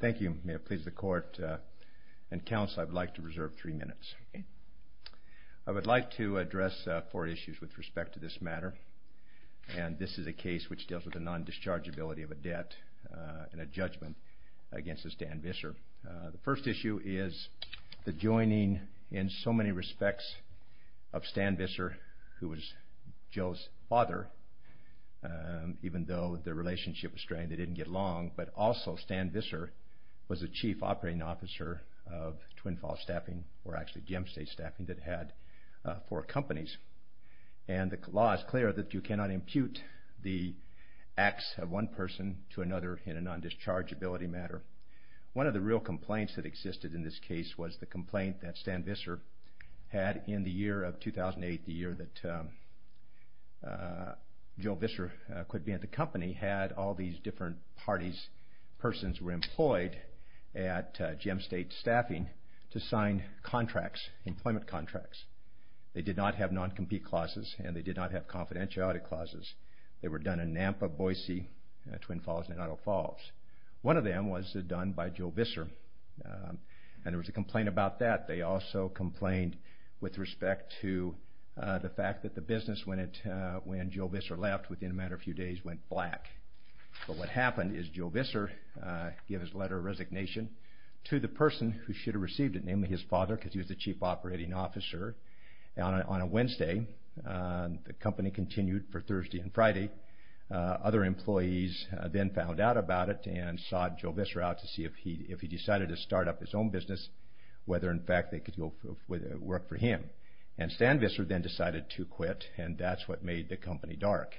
Thank you. May it please the court and counsel, I would like to reserve three minutes. I would like to address four issues with respect to this matter, and this is a case which deals with the non-dischargeability of a debt in a judgment against a Stan Visser. The first issue is the joining in so many respects of Stan Visser, who was Joe's father, even though their relationship was strained, they didn't get along, but also Stan Visser, was the Chief Operating Officer of Twin Falls Staffing, or actually Gem State Staffing, that had four companies. And the law is clear that you cannot impute the acts of one person to another in a non-dischargeability matter. One of the real complaints that existed in this case was the complaint that Stan Visser had in the year of 2008, the year that Joe Visser quit being at the company, had all these different parties, persons were employed at Gem State Staffing to sign contracts, employment contracts. They did not have non-compete clauses, and they did not have confidentiality clauses. They were done in Nampa, Boise, Twin Falls, and Idaho Falls. One of them was done by Joe Visser, and there was a complaint about that. They also complained with respect to the fact that the business, when Joe Visser left within a matter of a few days, went black. But what happened is Joe Visser gave his letter of resignation to the person who should have received it, namely his father, because he was the Chief Operating Officer. On a Wednesday, the company continued for Thursday and Friday. Other employees then found out about it and sought Joe Visser out to see if he decided to start up his own business, whether in fact they could work for him. And Stan Visser then decided to quit, and that's what made the company dark.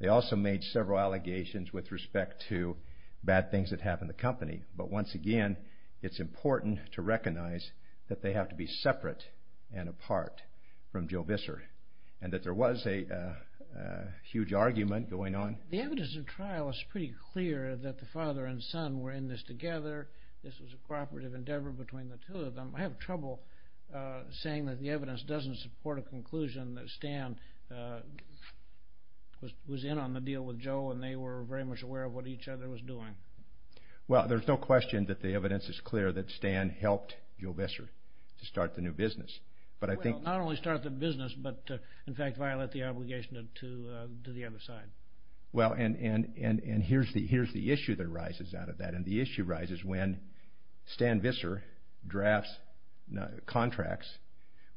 They also made several allegations with respect to bad things that happened to the company. But once again, it's important to recognize that they have to be separate and apart from Joe Visser, and that there was a huge argument going on. The evidence in trial is pretty clear that the father and son were in this together. This was a cooperative endeavor between the two of them. I have trouble saying that the evidence doesn't support a conclusion that Stan was in on the deal with Joe, and they were very much aware of what each other was doing. Well, there's no question that the evidence is clear that Stan helped Joe Visser to start the new business. Well, not only start the business, but in fact violate the obligation to the other side. Well, and here's the issue that arises out of that, and the issue rises when Stan Visser drafts contracts,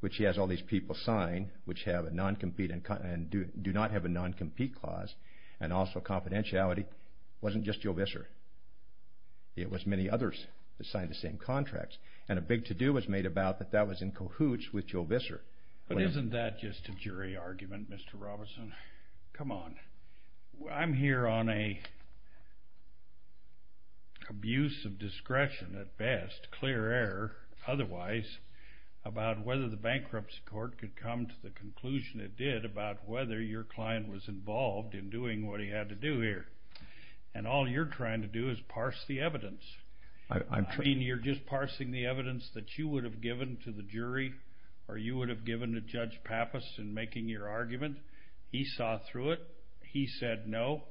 which he has all these people sign, which have a non-compete and do not have a non-compete clause, and also confidentiality, wasn't just Joe Visser. It was many others that signed the same contracts, and a big to-do was made about that that was in cahoots with Joe Visser. But isn't that just a jury argument, Mr. Robinson? Come on. I'm here on an abuse of discretion at best, clear error otherwise, about whether the bankruptcy court could come to the conclusion it did about whether your client was involved in doing what he had to do here, and all you're trying to do is parse the evidence. I mean, you're just parsing the evidence that you would have given to the jury, or you would have given to Judge Pappas in making your argument. He saw through it. He said no,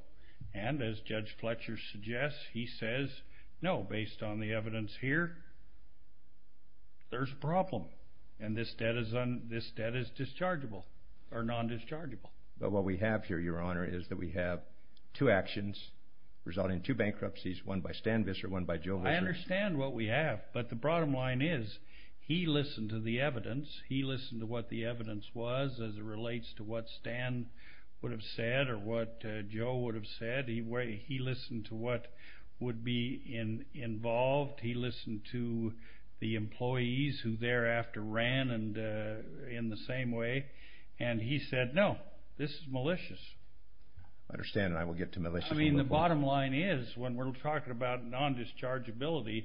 and as Judge Fletcher suggests, he says, no, based on the evidence here, there's a problem, and this debt is dischargeable, or non-dischargeable. But what we have here, Your Honor, is that we have two actions resulting in two bankruptcies, one by Stan Visser, one by Joe Visser. I understand, and I will get to malicious. I mean, the bottom line is, when we're talking about non-dischargeability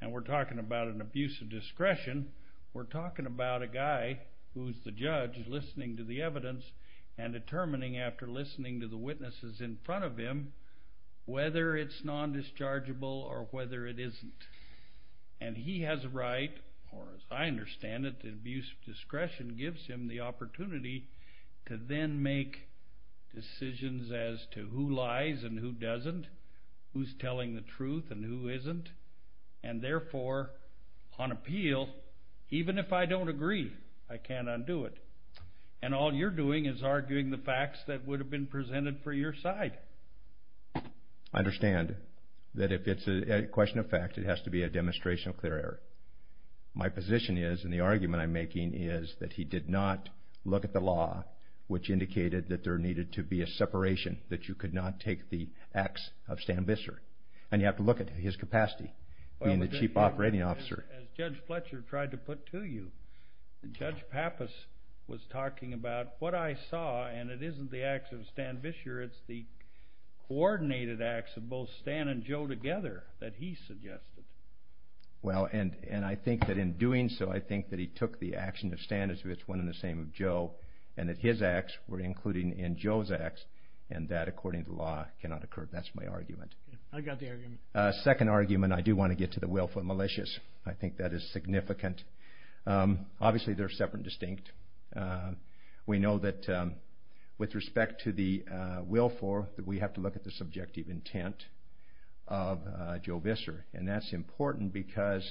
and we're talking about an abuse of discretion, we're talking about a guy who's the judge listening to the evidence and determining after listening to the witnesses in front of him whether it's non-dischargeable or whether it isn't. And he has a right, or as I understand it, the abuse of discretion gives him the opportunity to then make decisions as to who lies and who doesn't, who's telling the truth and who isn't, and therefore, on appeal, even if I don't agree, I can't undo it. And all you're doing is arguing the facts that would have been presented for your side. I understand that if it's a question of fact, it has to be a demonstration of clear error. My position is, and the argument I'm making is, that he did not look at the law, which indicated that there needed to be a separation, that you could not take the acts of Stan Visser. And you have to look at his capacity, being the chief operating officer. As Judge Fletcher tried to put to you, Judge Pappas was talking about what I saw, and it isn't the acts of Stan Visser, it's the coordinated acts of both Stan and Joe together that he suggested. Well, and I think that in doing so, I think that he took the action of Stan as if it's one and the same of Joe, and that his acts were included in Joe's acts, and that, according to law, cannot occur. That's my argument. I got the argument. Second argument, I do want to get to the willful malicious. I think that is significant. Obviously, they're separate and distinct. We know that with respect to the willful, we have to look at the subjective intent of Joe Visser. And that's important because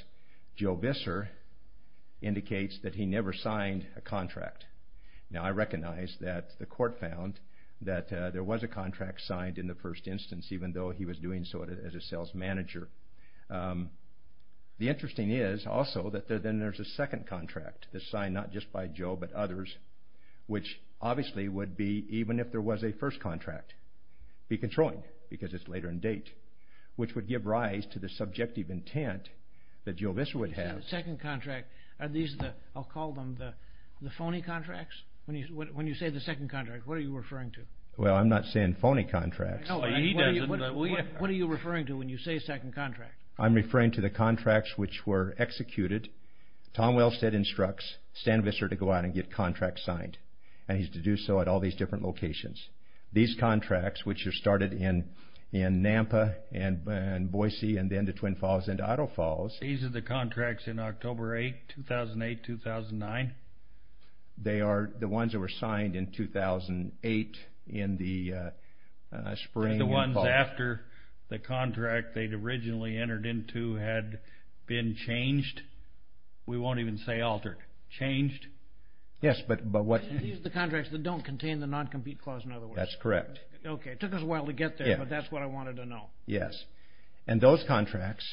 Joe Visser indicates that he never signed a contract. Now, I recognize that the court found that there was a contract signed in the first instance, even though he was doing so as a sales manager. The interesting is, also, that then there's a second contract that's signed not just by Joe, but others, which obviously would be, even if there was a first contract, be controlled, because it's later in date, which would give rise to the subjective intent that Joe Visser would have. I'll call them the phony contracts. When you say the second contract, what are you referring to? Well, I'm not saying phony contracts. What are you referring to when you say second contract? I'm referring to the contracts which were executed. Tom Wellstead instructs Stan Visser to go out and get contracts signed, and he's to do so at all these different locations. These contracts, which are started in Nampa and Boise and then the Twin Falls and Otto Falls. These are the contracts in October 8, 2008-2009? They are the ones that were signed in 2008 in the spring and fall. The ones after the contract they'd originally entered into had been changed? We won't even say altered. Changed? Yes, but what... These are the contracts that don't contain the non-compete clause, in other words. That's correct. Okay, it took us a while to get there, but that's what I wanted to know. Yes, and those contracts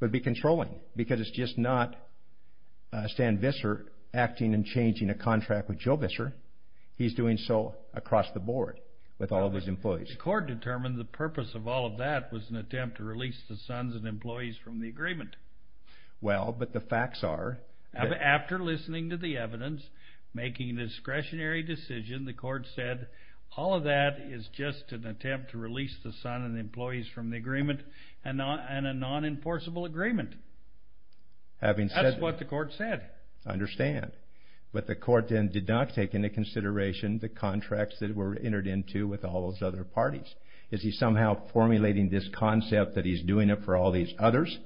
would be controlling because it's just not Stan Visser acting and changing a contract with Joe Visser. He's doing so across the board with all of his employees. The court determined the purpose of all of that was an attempt to release the sons and employees from the agreement. Well, but the facts are... And a non-enforceable agreement. Having said... That's what the court said. I understand, but the court then did not take into consideration the contracts that were entered into with all those other parties. Is he somehow formulating this concept that he's doing it for all these others?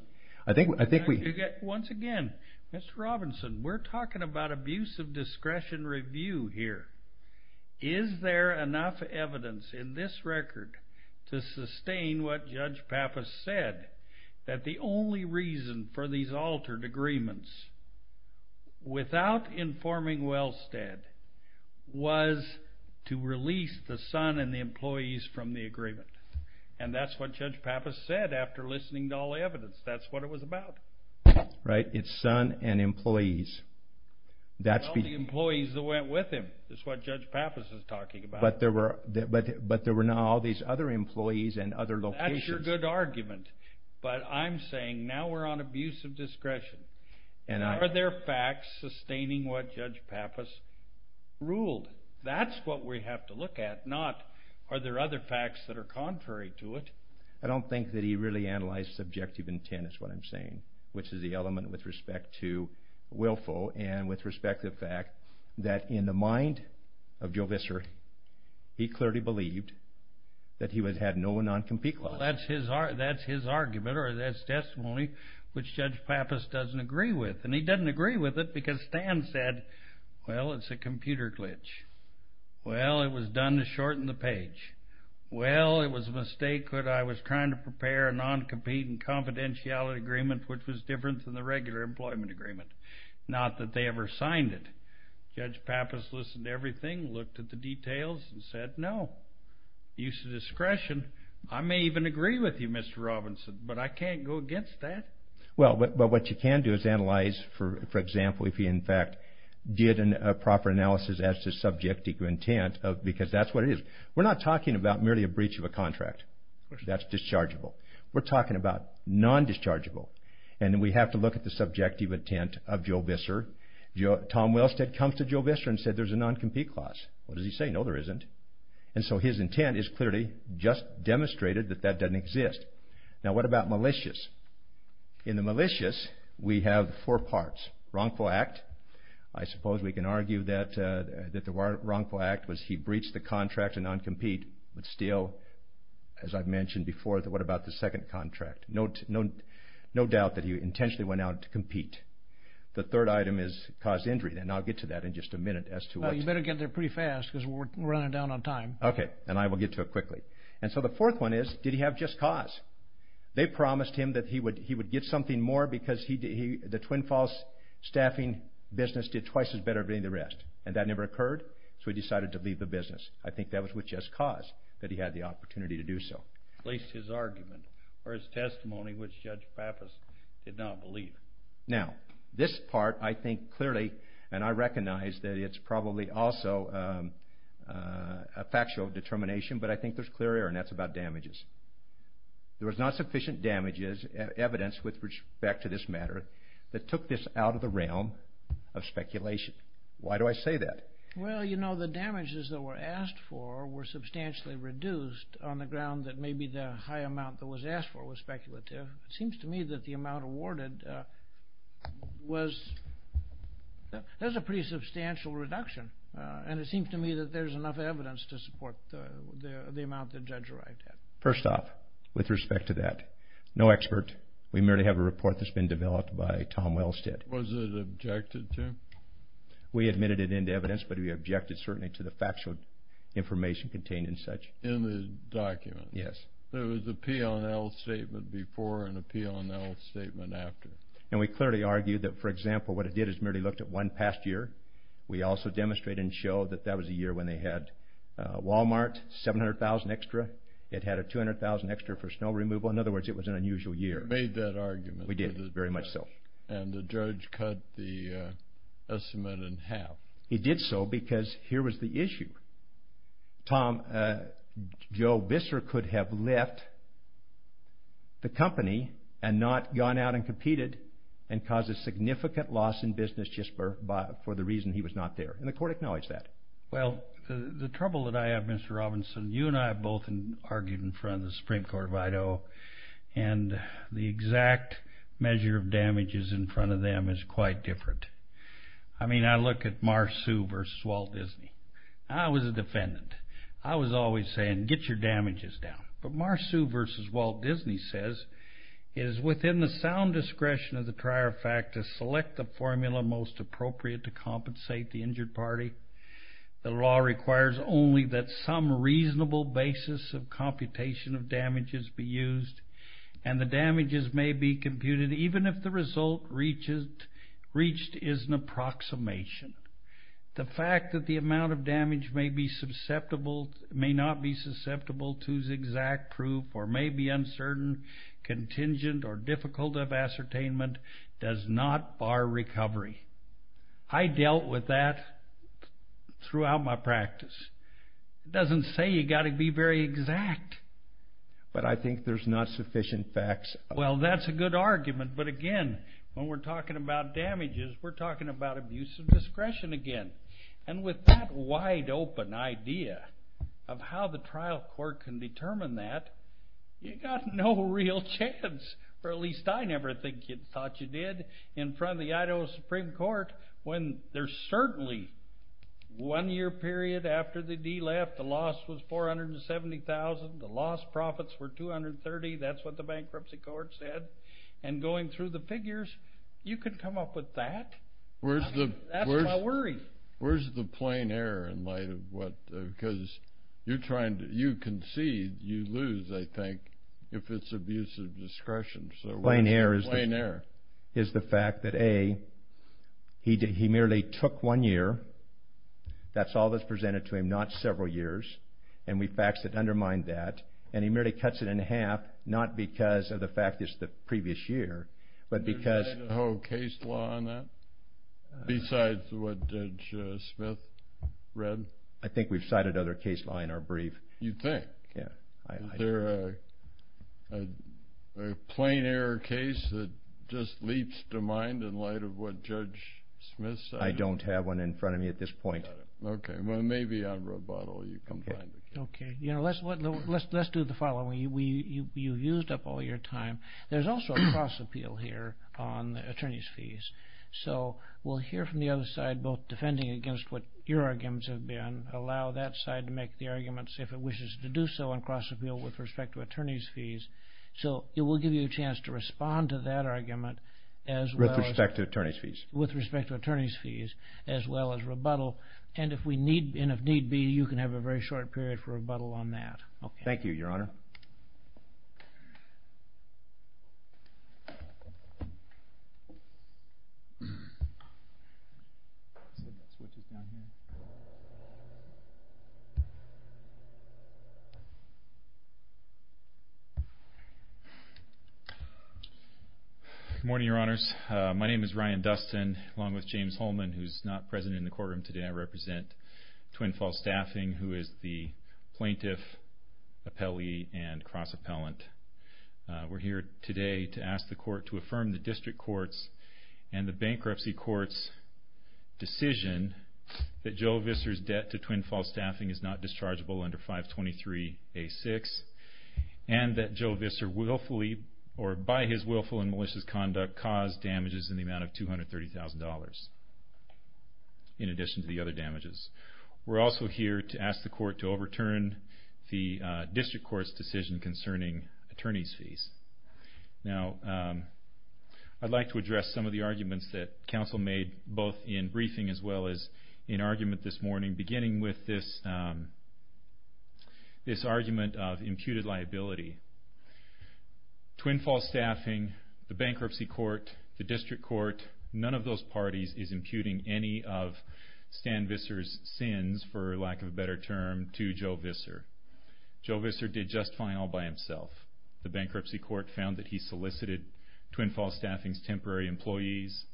I think we... Once again, Mr. Robinson, we're talking about abuse of discretion review here. Is there enough evidence in this record to sustain what Judge Pappas said? That the only reason for these altered agreements without informing Wellstead was to release the son and the employees from the agreement. And that's what Judge Pappas said after listening to all the evidence. That's what it was about. Right, it's son and employees. All the employees that went with him is what Judge Pappas is talking about. But there were now all these other employees and other locations. That's your good argument. But I'm saying now we're on abuse of discretion. Are there facts sustaining what Judge Pappas ruled? That's what we have to look at, not are there other facts that are contrary to it. I don't think that he really analyzed subjective intent is what I'm saying. Which is the element with respect to willful and with respect to the fact that in the mind of Joe Visser, he clearly believed that he had no non-compete clause. Well, that's his argument or that's testimony which Judge Pappas doesn't agree with. And he doesn't agree with it because Stan said, well, it's a computer glitch. Well, it was done to shorten the page. Well, it was a mistake that I was trying to prepare a non-compete and confidentiality agreement which was different than the regular employment agreement. Not that they ever signed it. Judge Pappas listened to everything, looked at the details and said, no. Use of discretion. I may even agree with you, Mr. Robinson, but I can't go against that. Well, but what you can do is analyze, for example, if he in fact did a proper analysis as to subjective intent because that's what it is. We're talking about merely a breach of a contract. That's dischargeable. We're talking about non-dischargeable. And we have to look at the subjective intent of Joe Visser. Tom Wellstead comes to Joe Visser and said there's a non-compete clause. What does he say? No, there isn't. And so his intent is clearly just demonstrated that that doesn't exist. Now, what about malicious? In the malicious, we have four parts. Wrongful act. I suppose we can argue that the wrongful act was he breached the contract to non-compete. But still, as I've mentioned before, what about the second contract? No doubt that he intentionally went out to compete. The third item is caused injury. And I'll get to that in just a minute as to what... Well, you better get there pretty fast because we're running down on time. Okay. And I will get to it quickly. And so the fourth one is, did he have just cause? They promised him that he would get something more because the Twin Falls staffing business did twice as better than the rest. And that never occurred, so he decided to leave the business. I think that was with just cause that he had the opportunity to do so. At least his argument or his testimony, which Judge Pappas did not believe. Now, this part I think clearly, and I recognize that it's probably also a factual determination, but I think there's clear error, and that's about damages. There was not sufficient damages, evidence with respect to this matter, that took this out of the realm of speculation. Why do I say that? Well, you know, the damages that were asked for were substantially reduced on the ground that maybe the high amount that was asked for was speculative. It seems to me that the amount awarded was... That's a pretty substantial reduction. And it seems to me that there's enough evidence to support the amount that Judge arrived at. First off, with respect to that, no expert. We merely have a report that's been developed by Tom Wellstead. Was it objected to? We admitted it into evidence, but we objected certainly to the factual information contained in such. In the document? Yes. There was a P&L statement before and a P&L statement after. And we clearly argued that, for example, what it did is merely looked at one past year. We also demonstrated and showed that that was a year when they had Walmart, $700,000 extra. It had a $200,000 extra for snow removal. In other words, it was an unusual year. You made that argument. We did, very much so. And the judge cut the estimate in half. He did so because here was the issue. Tom, Joe Bisser could have left the company and not gone out and competed and caused a significant loss in business just for the reason he was not there. And the court acknowledged that. Well, the trouble that I have, Mr. Robinson, you and I have both argued in front of the Supreme Court of Idaho, and the exact measure of damages in front of them is quite different. I mean, I look at Marsu v. Walt Disney. I was a defendant. I was always saying, get your damages down. But Marsu v. Walt Disney says, It is within the sound discretion of the trier fact to select the formula most appropriate to compensate the injured party. The law requires only that some reasonable basis of computation of damages be used, and the damages may be computed even if the result reached is an approximation. The fact that the amount of damage may not be susceptible to exact proof or may be uncertain, contingent, or difficult of ascertainment does not bar recovery. I dealt with that throughout my practice. It doesn't say you've got to be very exact. But I think there's not sufficient facts. Well, that's a good argument. But again, when we're talking about damages, we're talking about abuse of discretion again. And with that wide open idea of how the trial court can determine that, you've got no real chance, or at least I never thought you did, in front of the Idaho Supreme Court when there's certainly one year period after the D left, the loss was $470,000, the loss profits were $230,000. That's what the bankruptcy court said. And going through the figures, you could come up with that. That's what I worried. Where's the plain error in light of what, because you're trying to, you concede, you lose, I think, if it's abuse of discretion. Plain error is the fact that, A, he merely took one year. That's all that's presented to him, not several years. And we faxed it, undermined that. And he merely cuts it in half, not because of the fact it's the previous year, but because Have you cited Idaho case law on that? Besides what Judge Smith read? I think we've cited other case law in our brief. You think? Yeah. Is there a plain error case that just leaps to mind in light of what Judge Smith said? I don't have one in front of me at this point. Okay. Well, maybe on Roboto you can find it. Okay. You know, let's do the following. You've used up all your time. There's also a cross-appeal here on attorney's fees. So we'll hear from the other side, both defending against what your arguments have been, allow that side to make the arguments if it wishes to do so on cross-appeal with respect to attorney's fees. So it will give you a chance to respond to that argument, as well as With respect to attorney's fees. With respect to attorney's fees, as well as rebuttal. And if need be, you can have a very short period for rebuttal on that. Thank you, Your Honor. Thank you. Good morning, Your Honors. My name is Ryan Dustin, along with James Holman, who is not present in the courtroom today. I represent Twin Falls Staffing, who is the plaintiff, appellee, and cross-appellant. We're here today to ask the court to affirm the district court's and the bankruptcy court's decision that Joe Visser's debt to Twin Falls Staffing is not dischargeable under 523A6, and that Joe Visser willfully, or by his willful and malicious conduct, caused damages in the amount of $230,000, in addition to the other damages. We're also here to ask the court to overturn the district court's decision concerning attorney's fees. Now, I'd like to address some of the arguments that counsel made, both in briefing, as well as in argument this morning, beginning with this argument of imputed liability. Twin Falls Staffing, the bankruptcy court, the district court, none of those parties is imputing any of Stan Visser's sins, for lack of a better term, to Joe Visser. Joe Visser did just fine all by himself. The bankruptcy court found that he solicited Twin Falls Staffing's temporary employees.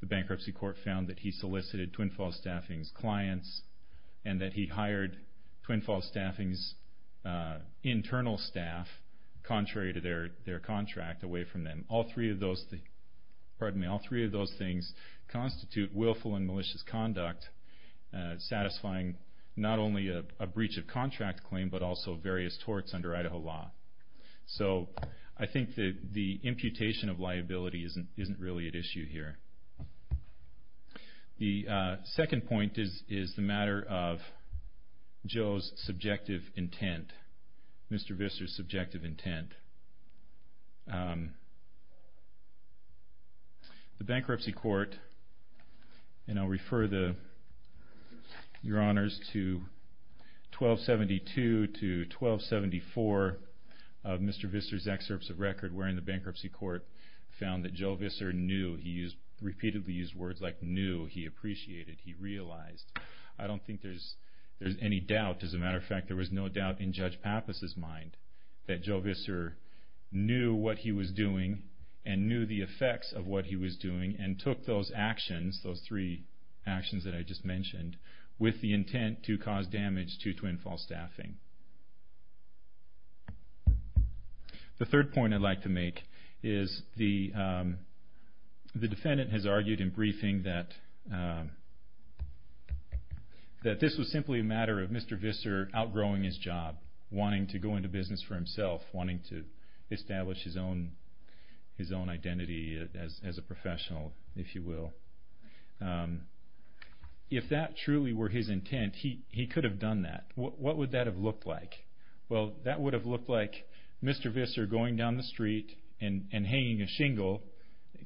The bankruptcy court found that he solicited Twin Falls Staffing's clients, and that he hired Twin Falls Staffing's internal staff, contrary to their contract, away from them. All three of those things constitute willful and malicious conduct, satisfying not only a breach of contract claim, but also various torts under Idaho law. So, I think that the imputation of liability isn't really at issue here. The second point is the matter of Joe's subjective intent, Mr. Visser's subjective intent. The bankruptcy court, and I'll refer your honors to 1272 to 1274 of Mr. Visser's excerpts of record, wherein the bankruptcy court found that Joe Visser knew, he repeatedly used words like knew, he appreciated, he realized. I don't think there's any doubt, as a matter of fact, there was no doubt in Judge Pappas' mind, that Joe Visser knew what he was doing, and knew the effects of what he was doing, and took those actions, those three actions that I just mentioned, with the intent to cause damage to Twin Falls Staffing. The third point I'd like to make is the defendant has argued in briefing that this was simply a matter of Mr. Visser outgrowing his job, wanting to go into business for himself, wanting to establish his own identity as a professional, if you will. If that truly were his intent, he could have done that. What would that have looked like? Well, that would have looked like Mr. Visser going down the street and hanging a shingle,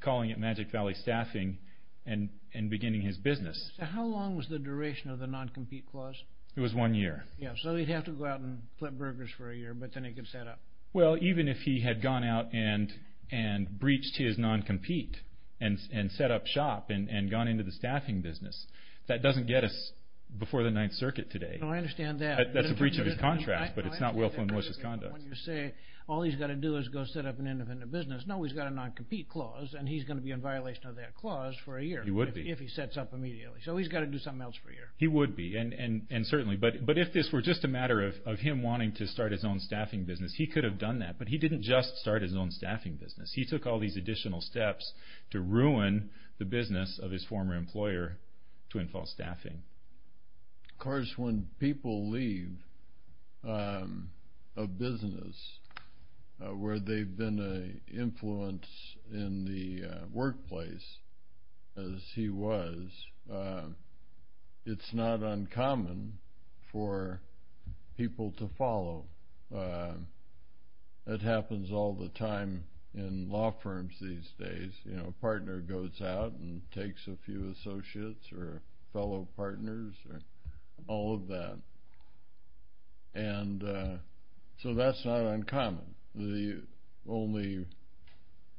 calling it Magic Valley Staffing, and beginning his business. How long was the duration of the non-compete clause? It was one year. Yeah, so he'd have to go out and flip burgers for a year, but then he could set up. Well, even if he had gone out and breached his non-compete, and set up shop, and gone into the staffing business, that doesn't get us before the Ninth Circuit today. No, I understand that. That's a breach of his contract, but it's not willful and malicious conduct. When you say, all he's got to do is go set up an independent business, no, he's got a non-compete clause, and he's going to be in violation of that clause for a year. He would be. If he sets up immediately. So he's got to do something else for a year. He would be, and certainly, but if this were just a matter of him wanting to start his own staffing business, he could have done that, but he didn't just start his own staffing business. He took all these additional steps to ruin the business of his former employer, Twin Falls Staffing. Of course, when people leave a business where they've been an influence in the workplace, as he was, it's not uncommon for people to follow. It happens all the time in law firms these days. A partner goes out and takes a few associates, or fellow partners, or all of that. So that's not uncommon. The only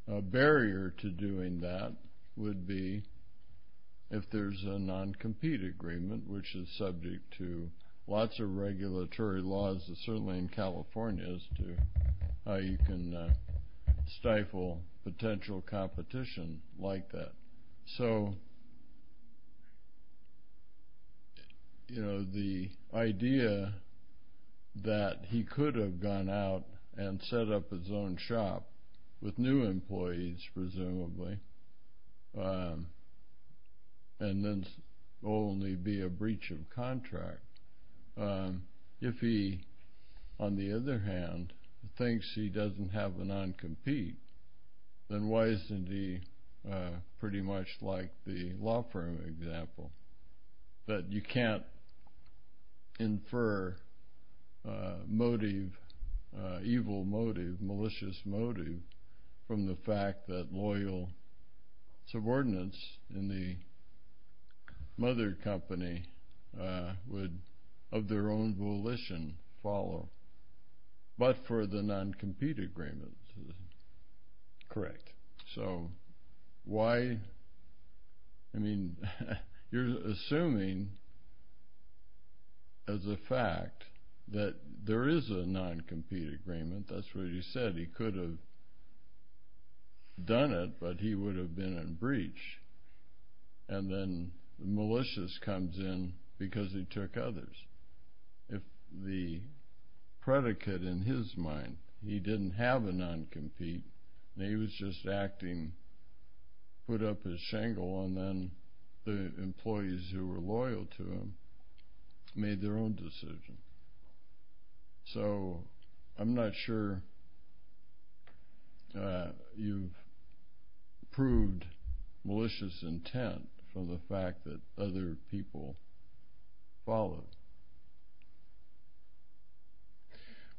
barrier to doing that would be if there's a non-compete agreement, which is subject to lots of regulatory laws, certainly in California, as to how you can stifle potential competition like that. So the idea that he could have gone out and set up his own shop with new employees, presumably, and then only be a breach of contract. If he, on the other hand, thinks he doesn't have a non-compete, then why isn't he pretty much like the law firm example? But you can't infer motive, evil motive, malicious motive, from the fact that loyal subordinates in the mother company would, of their own volition, follow. But for the non-compete agreement, it's correct. You're assuming, as a fact, that there is a non-compete agreement. That's what he said. He could have done it, but he would have been in breach. And then malicious comes in because he took others. If the predicate in his mind, he didn't have a non-compete, he was just acting, put up his shingle, and then the employees who were loyal to him made their own decision. So I'm not sure you've proved malicious intent from the fact that other people followed.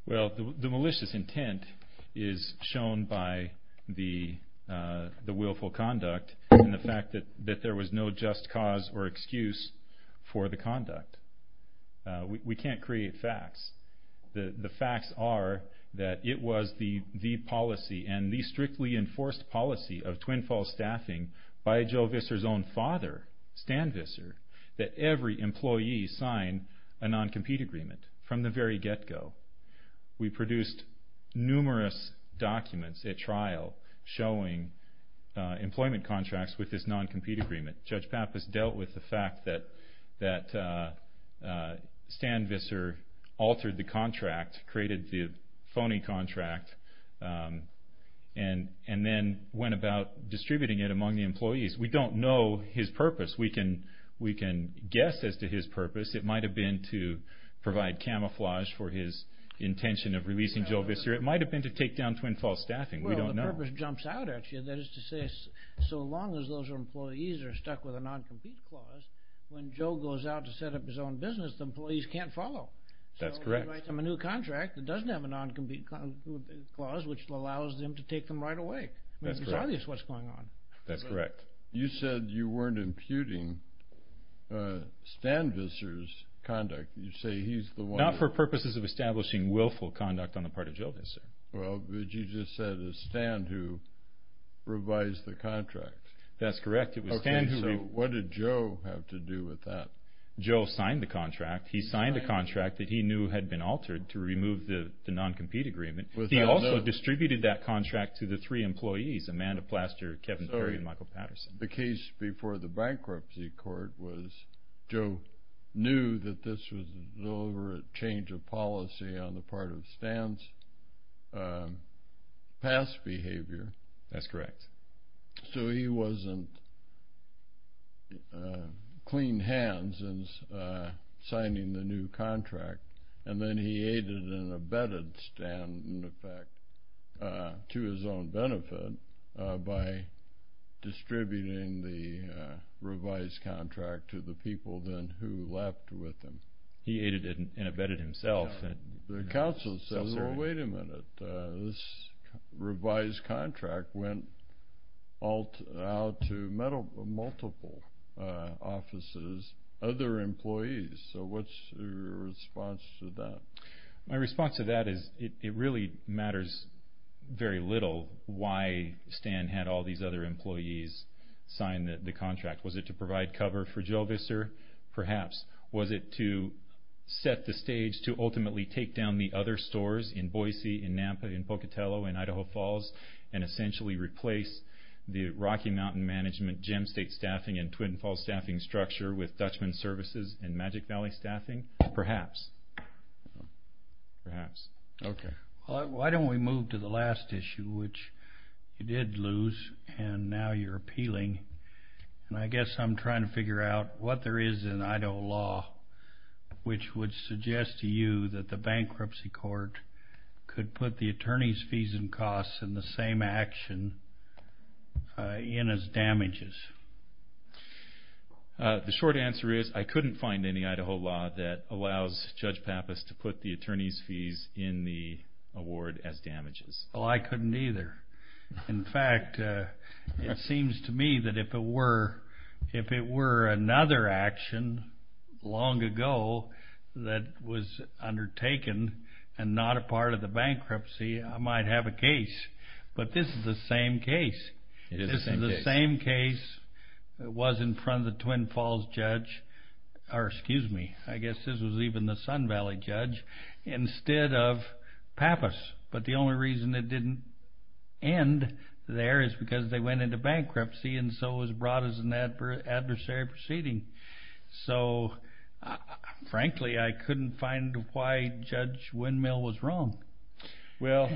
Well, the malicious intent is shown by the willful conduct and the fact that there was no just cause or excuse for the conduct. We can't create facts. The facts are that it was the policy and the strictly enforced policy of Twin Falls Staffing by Joe Visser's own father, Stan Visser, that every employee sign a non-compete agreement from the very get-go. We produced numerous documents at trial showing employment contracts with this non-compete agreement. Judge Pappas dealt with the fact that Stan Visser altered the contract, created the phony contract, and then went about distributing it among the employees. We don't know his purpose. We can guess as to his purpose. It might have been to provide camouflage for his intention of releasing Joe Visser. It might have been to take down Twin Falls Staffing. Well, the purpose jumps out at you. That is to say, so long as those employees are stuck with a non-compete clause, when Joe goes out to set up his own business, the employees can't follow. So he writes them a new contract that doesn't have a non-compete clause, which allows them to take them right away. It's obvious what's going on. You said you weren't imputing Stan Visser's conduct. Not for purposes of establishing willful conduct on the part of Joe Visser. But you just said it was Stan who revised the contract. That's correct. What did Joe have to do with that? Joe signed the contract. He signed the contract that he knew had been altered to remove the non-compete agreement. He also distributed that contract to the three employees, Amanda Plaster, Kevin Perry, and Michael Patterson. The case before the bankruptcy court was Joe knew that this was a deliberate change of policy on the part of Stan's past behavior. That's correct. So he wasn't clean hands in signing the new contract. And then he aided and abetted Stan, in effect, to his own benefit by distributing the revised contract to the people then who left with him. He aided and abetted himself. The counsel says, well, wait a minute. This revised contract went out to multiple offices, other employees. So what's your response to that? My response to that is it really matters very little why Stan had all these other employees sign the contract. Was it to provide cover for Joe Visser? Perhaps. Was it to set the stage to ultimately take down the other stores in Boise, in Napa, in Pocatello, in Idaho Falls, and essentially replace the Rocky Mountain Management, Gem State Staffing, and Twin Falls Staffing structure with Dutchman Services and Magic Valley Staffing? Perhaps. Okay. Why don't we move to the last issue, which you did lose, and now you're appealing. And I guess I'm trying to figure out what there is in Idaho law which would suggest to you that the bankruptcy court could put the attorney's fees and costs in the same action in as damages. The short answer is I couldn't find any Idaho law that allows Judge Pappas to put the attorney's fees in the award as damages. Oh, I couldn't either. In fact, it seems to me that if it were another action long ago that was undertaken and not a part of the bankruptcy, I might have a case. But this is the same case. This is the same case that was in front of the Twin Falls judge, or excuse me, I guess this was even the Sun Valley judge, instead of Pappas. But the only reason it didn't end there is because they went into bankruptcy and so it was brought as an adversary proceeding. So, frankly, I couldn't find why Judge Windmill was wrong. Well,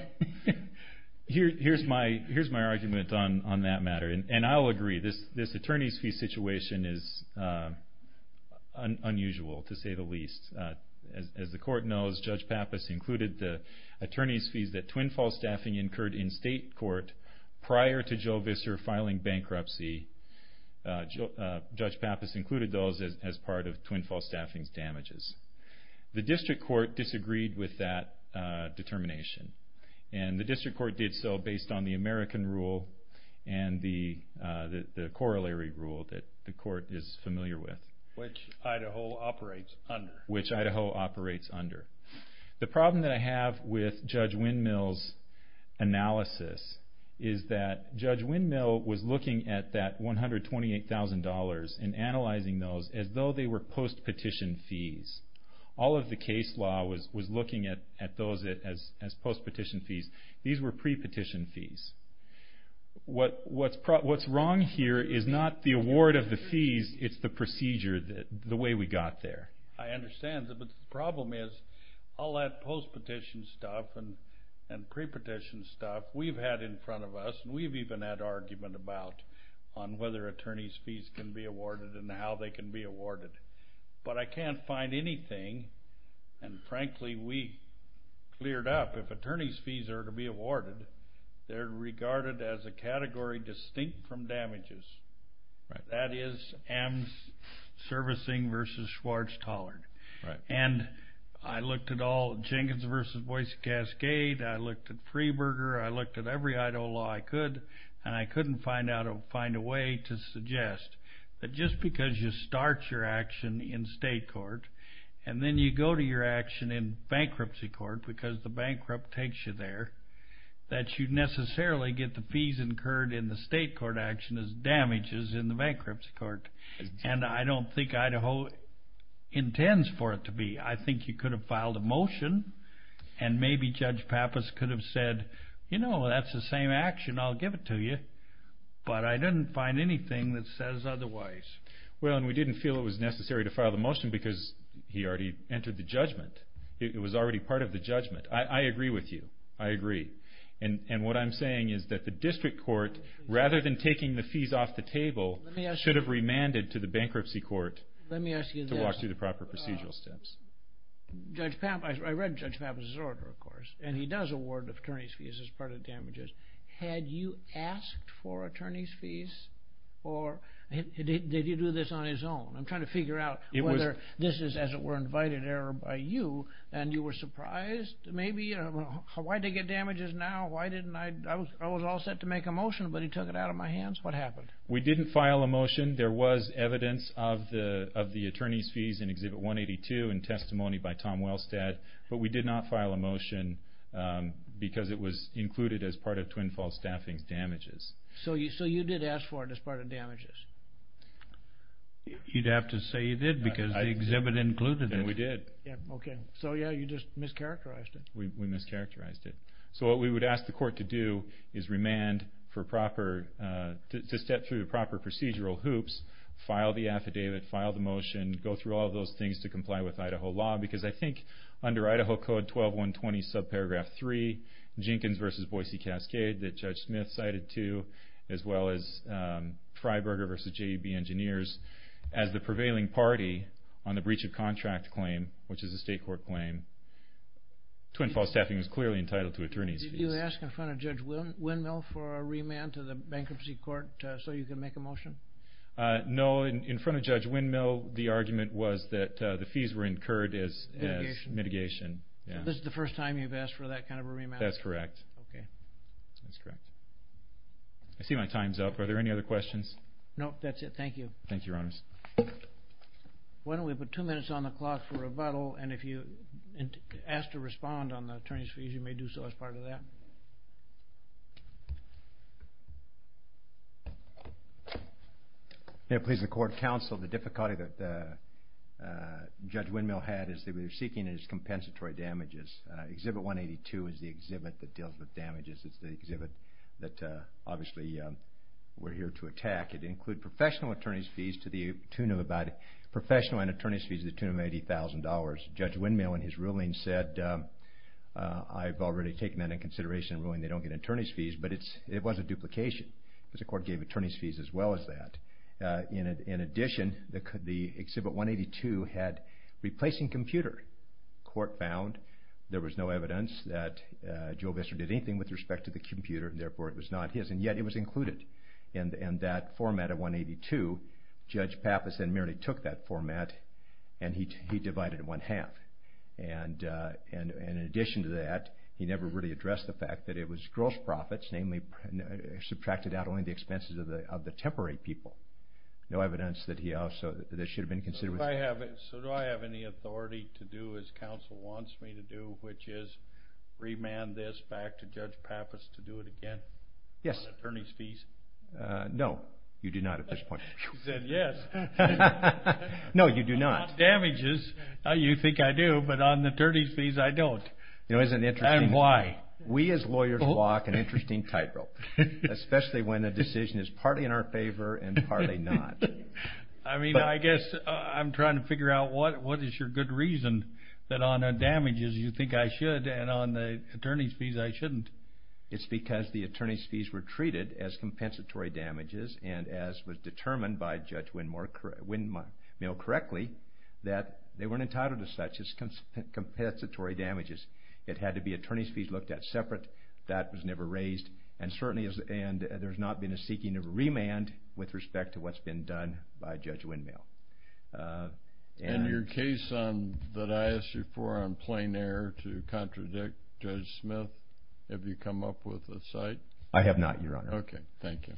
here's my argument on that matter, and I'll agree. This attorney's fee situation is unusual, to say the least. As the court knows, Judge Pappas included the attorney's fees that Twin Falls Staffing incurred in state court prior to Joe Visser filing bankruptcy. Judge Pappas included those as part of Twin Falls Staffing's damages. The district court disagreed with that determination. And the district court did so based on the American rule and the corollary rule that the court is familiar with. Which Idaho operates under. Which Idaho operates under. The problem that I have with Judge Windmill's analysis is that Judge Windmill was looking at that $128,000 and analyzing those as though they were post-petition fees. All of the case law was looking at those as post-petition fees. These were pre-petition fees. What's wrong here is not the award of the fees, it's the procedure, the way we got there. I understand, but the problem is all that post-petition stuff and pre-petition stuff we've had in front of us, and we've even had argument about, on whether attorney's fees can be awarded and how they can be awarded. But I can't find anything, and frankly we cleared up, if attorney's fees are to be awarded, they're regarded as a category distinct from damages. That is AMS servicing versus Schwartz-Tollard. And I looked at all Jenkins versus Boise Cascade. I looked at Freeburger. I looked at every Idaho law I could, and I couldn't find a way to suggest that just because you start your action in state court, and then you go to your action in bankruptcy court, because the bankrupt takes you there, that you necessarily get the fees incurred in the state court action as damages in the bankruptcy court. And I don't think Idaho intends for it to be. I think you could have filed a motion, and maybe Judge Pappas could have said, you know, that's the same action, I'll give it to you. But I didn't find anything that says otherwise. Well, and we didn't feel it was necessary to file the motion because he already entered the judgment. It was already part of the judgment. I agree with you. I agree. And what I'm saying is that the district court, rather than taking the fees off the table, should have remanded to the bankruptcy court to walk through the proper procedural steps. Let me ask you this. Judge Pappas, I read Judge Pappas' order, of course, and he does award attorney's fees as part of damages. Had you asked for attorney's fees, or did he do this on his own? I'm trying to figure out whether this is, as it were, an invited error by you, and you were surprised, maybe? Why'd they get damages now? I was all set to make a motion, but he took it out of my hands. What happened? We didn't file a motion. There was evidence of the attorney's fees in Exhibit 182 and testimony by Tom Wellstead, but we did not file a motion because it was included as part of Twin Falls Staffing's damages. So you did ask for it as part of damages? You'd have to say you did because the exhibit included it. We did. So you just mischaracterized it. We mischaracterized it. So what we would ask the court to do is remand to step through the proper procedural hoops, file the affidavit, file the motion, go through all those things to comply with Idaho law, because I think under Idaho Code 12120, subparagraph 3, Jenkins v. Boise Cascade, that Judge Smith cited too, as well as Freiberger v. J.E.B. Engineers, as the prevailing party on the breach of contract claim, which is a state court claim. Twin Falls Staffing was clearly entitled to attorney's fees. Did you ask in front of Judge Windmill for a remand to the bankruptcy court so you could make a motion? No. In front of Judge Windmill, the argument was that the fees were incurred as mitigation. This is the first time you've asked for that kind of a remand? That's correct. I see my time's up. Are there any other questions? No, that's it. Thank you. Thank you, Your Honor. Why don't we put two minutes on the clock for rebuttal, and if you ask to respond on the attorney's fees, you may do so as part of that. May it please the Court of Counsel, the difficulty that Judge Windmill had is that we were seeking his compensatory damages. Exhibit 182 is the exhibit that deals with damages. It's the exhibit that, obviously, we're here to attack. It includes professional and attorney's fees to the tune of about $80,000. Judge Windmill, in his ruling, said, I've already taken that into consideration in ruling they don't get attorney's fees, but it was a duplication because the court gave attorney's fees as well as that. In addition, the exhibit 182 had replacing computer. The court found there was no evidence that Joe Visser did anything with respect to the computer, and therefore it was not his, and yet it was included. In that format of 182, Judge Pappas then merely took that format, and he divided it in one half. In addition to that, he never really addressed the fact that it was gross profits, namely, subtracted out only the expenses of the temporary people. No evidence that should have been considered. So do I have any authority to do as counsel wants me to do, which is remand this back to Judge Pappas to do it again? Yes. No, you do not at this point. He said yes. No, you do not. On damages, you think I do, but on attorney's fees, I don't. And why? We as lawyers walk an interesting tightrope, especially when a decision is partly in our favor and partly not. I mean, I guess I'm trying to figure out what is your good reason that on damages you think I should and on the attorney's fees I shouldn't. It's because the attorney's fees were treated as compensatory damages and as was determined by Judge Windmill correctly, that they weren't entitled to such as compensatory damages. It had to be attorney's fees looked at separate. That was never raised. And certainly there's not been a seeking of remand with respect to what's been done by Judge Windmill. And your case that I asked you for on plain air to contradict Judge Smith, have you come up with a site? I have not, Your Honor. Okay, thank you.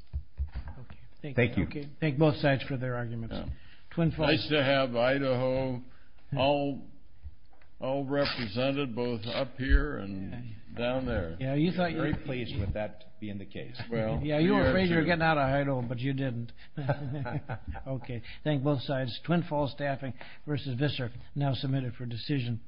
Thank both sides for their arguments. Nice to have Idaho all represented, both up here and down there. Yeah, you thought you were very pleased with that being the case. Yeah, you were afraid you were getting out of Idaho, but you didn't. Okay, thank both sides. Twin Falls Staffing v. Visser, now submitted for decision.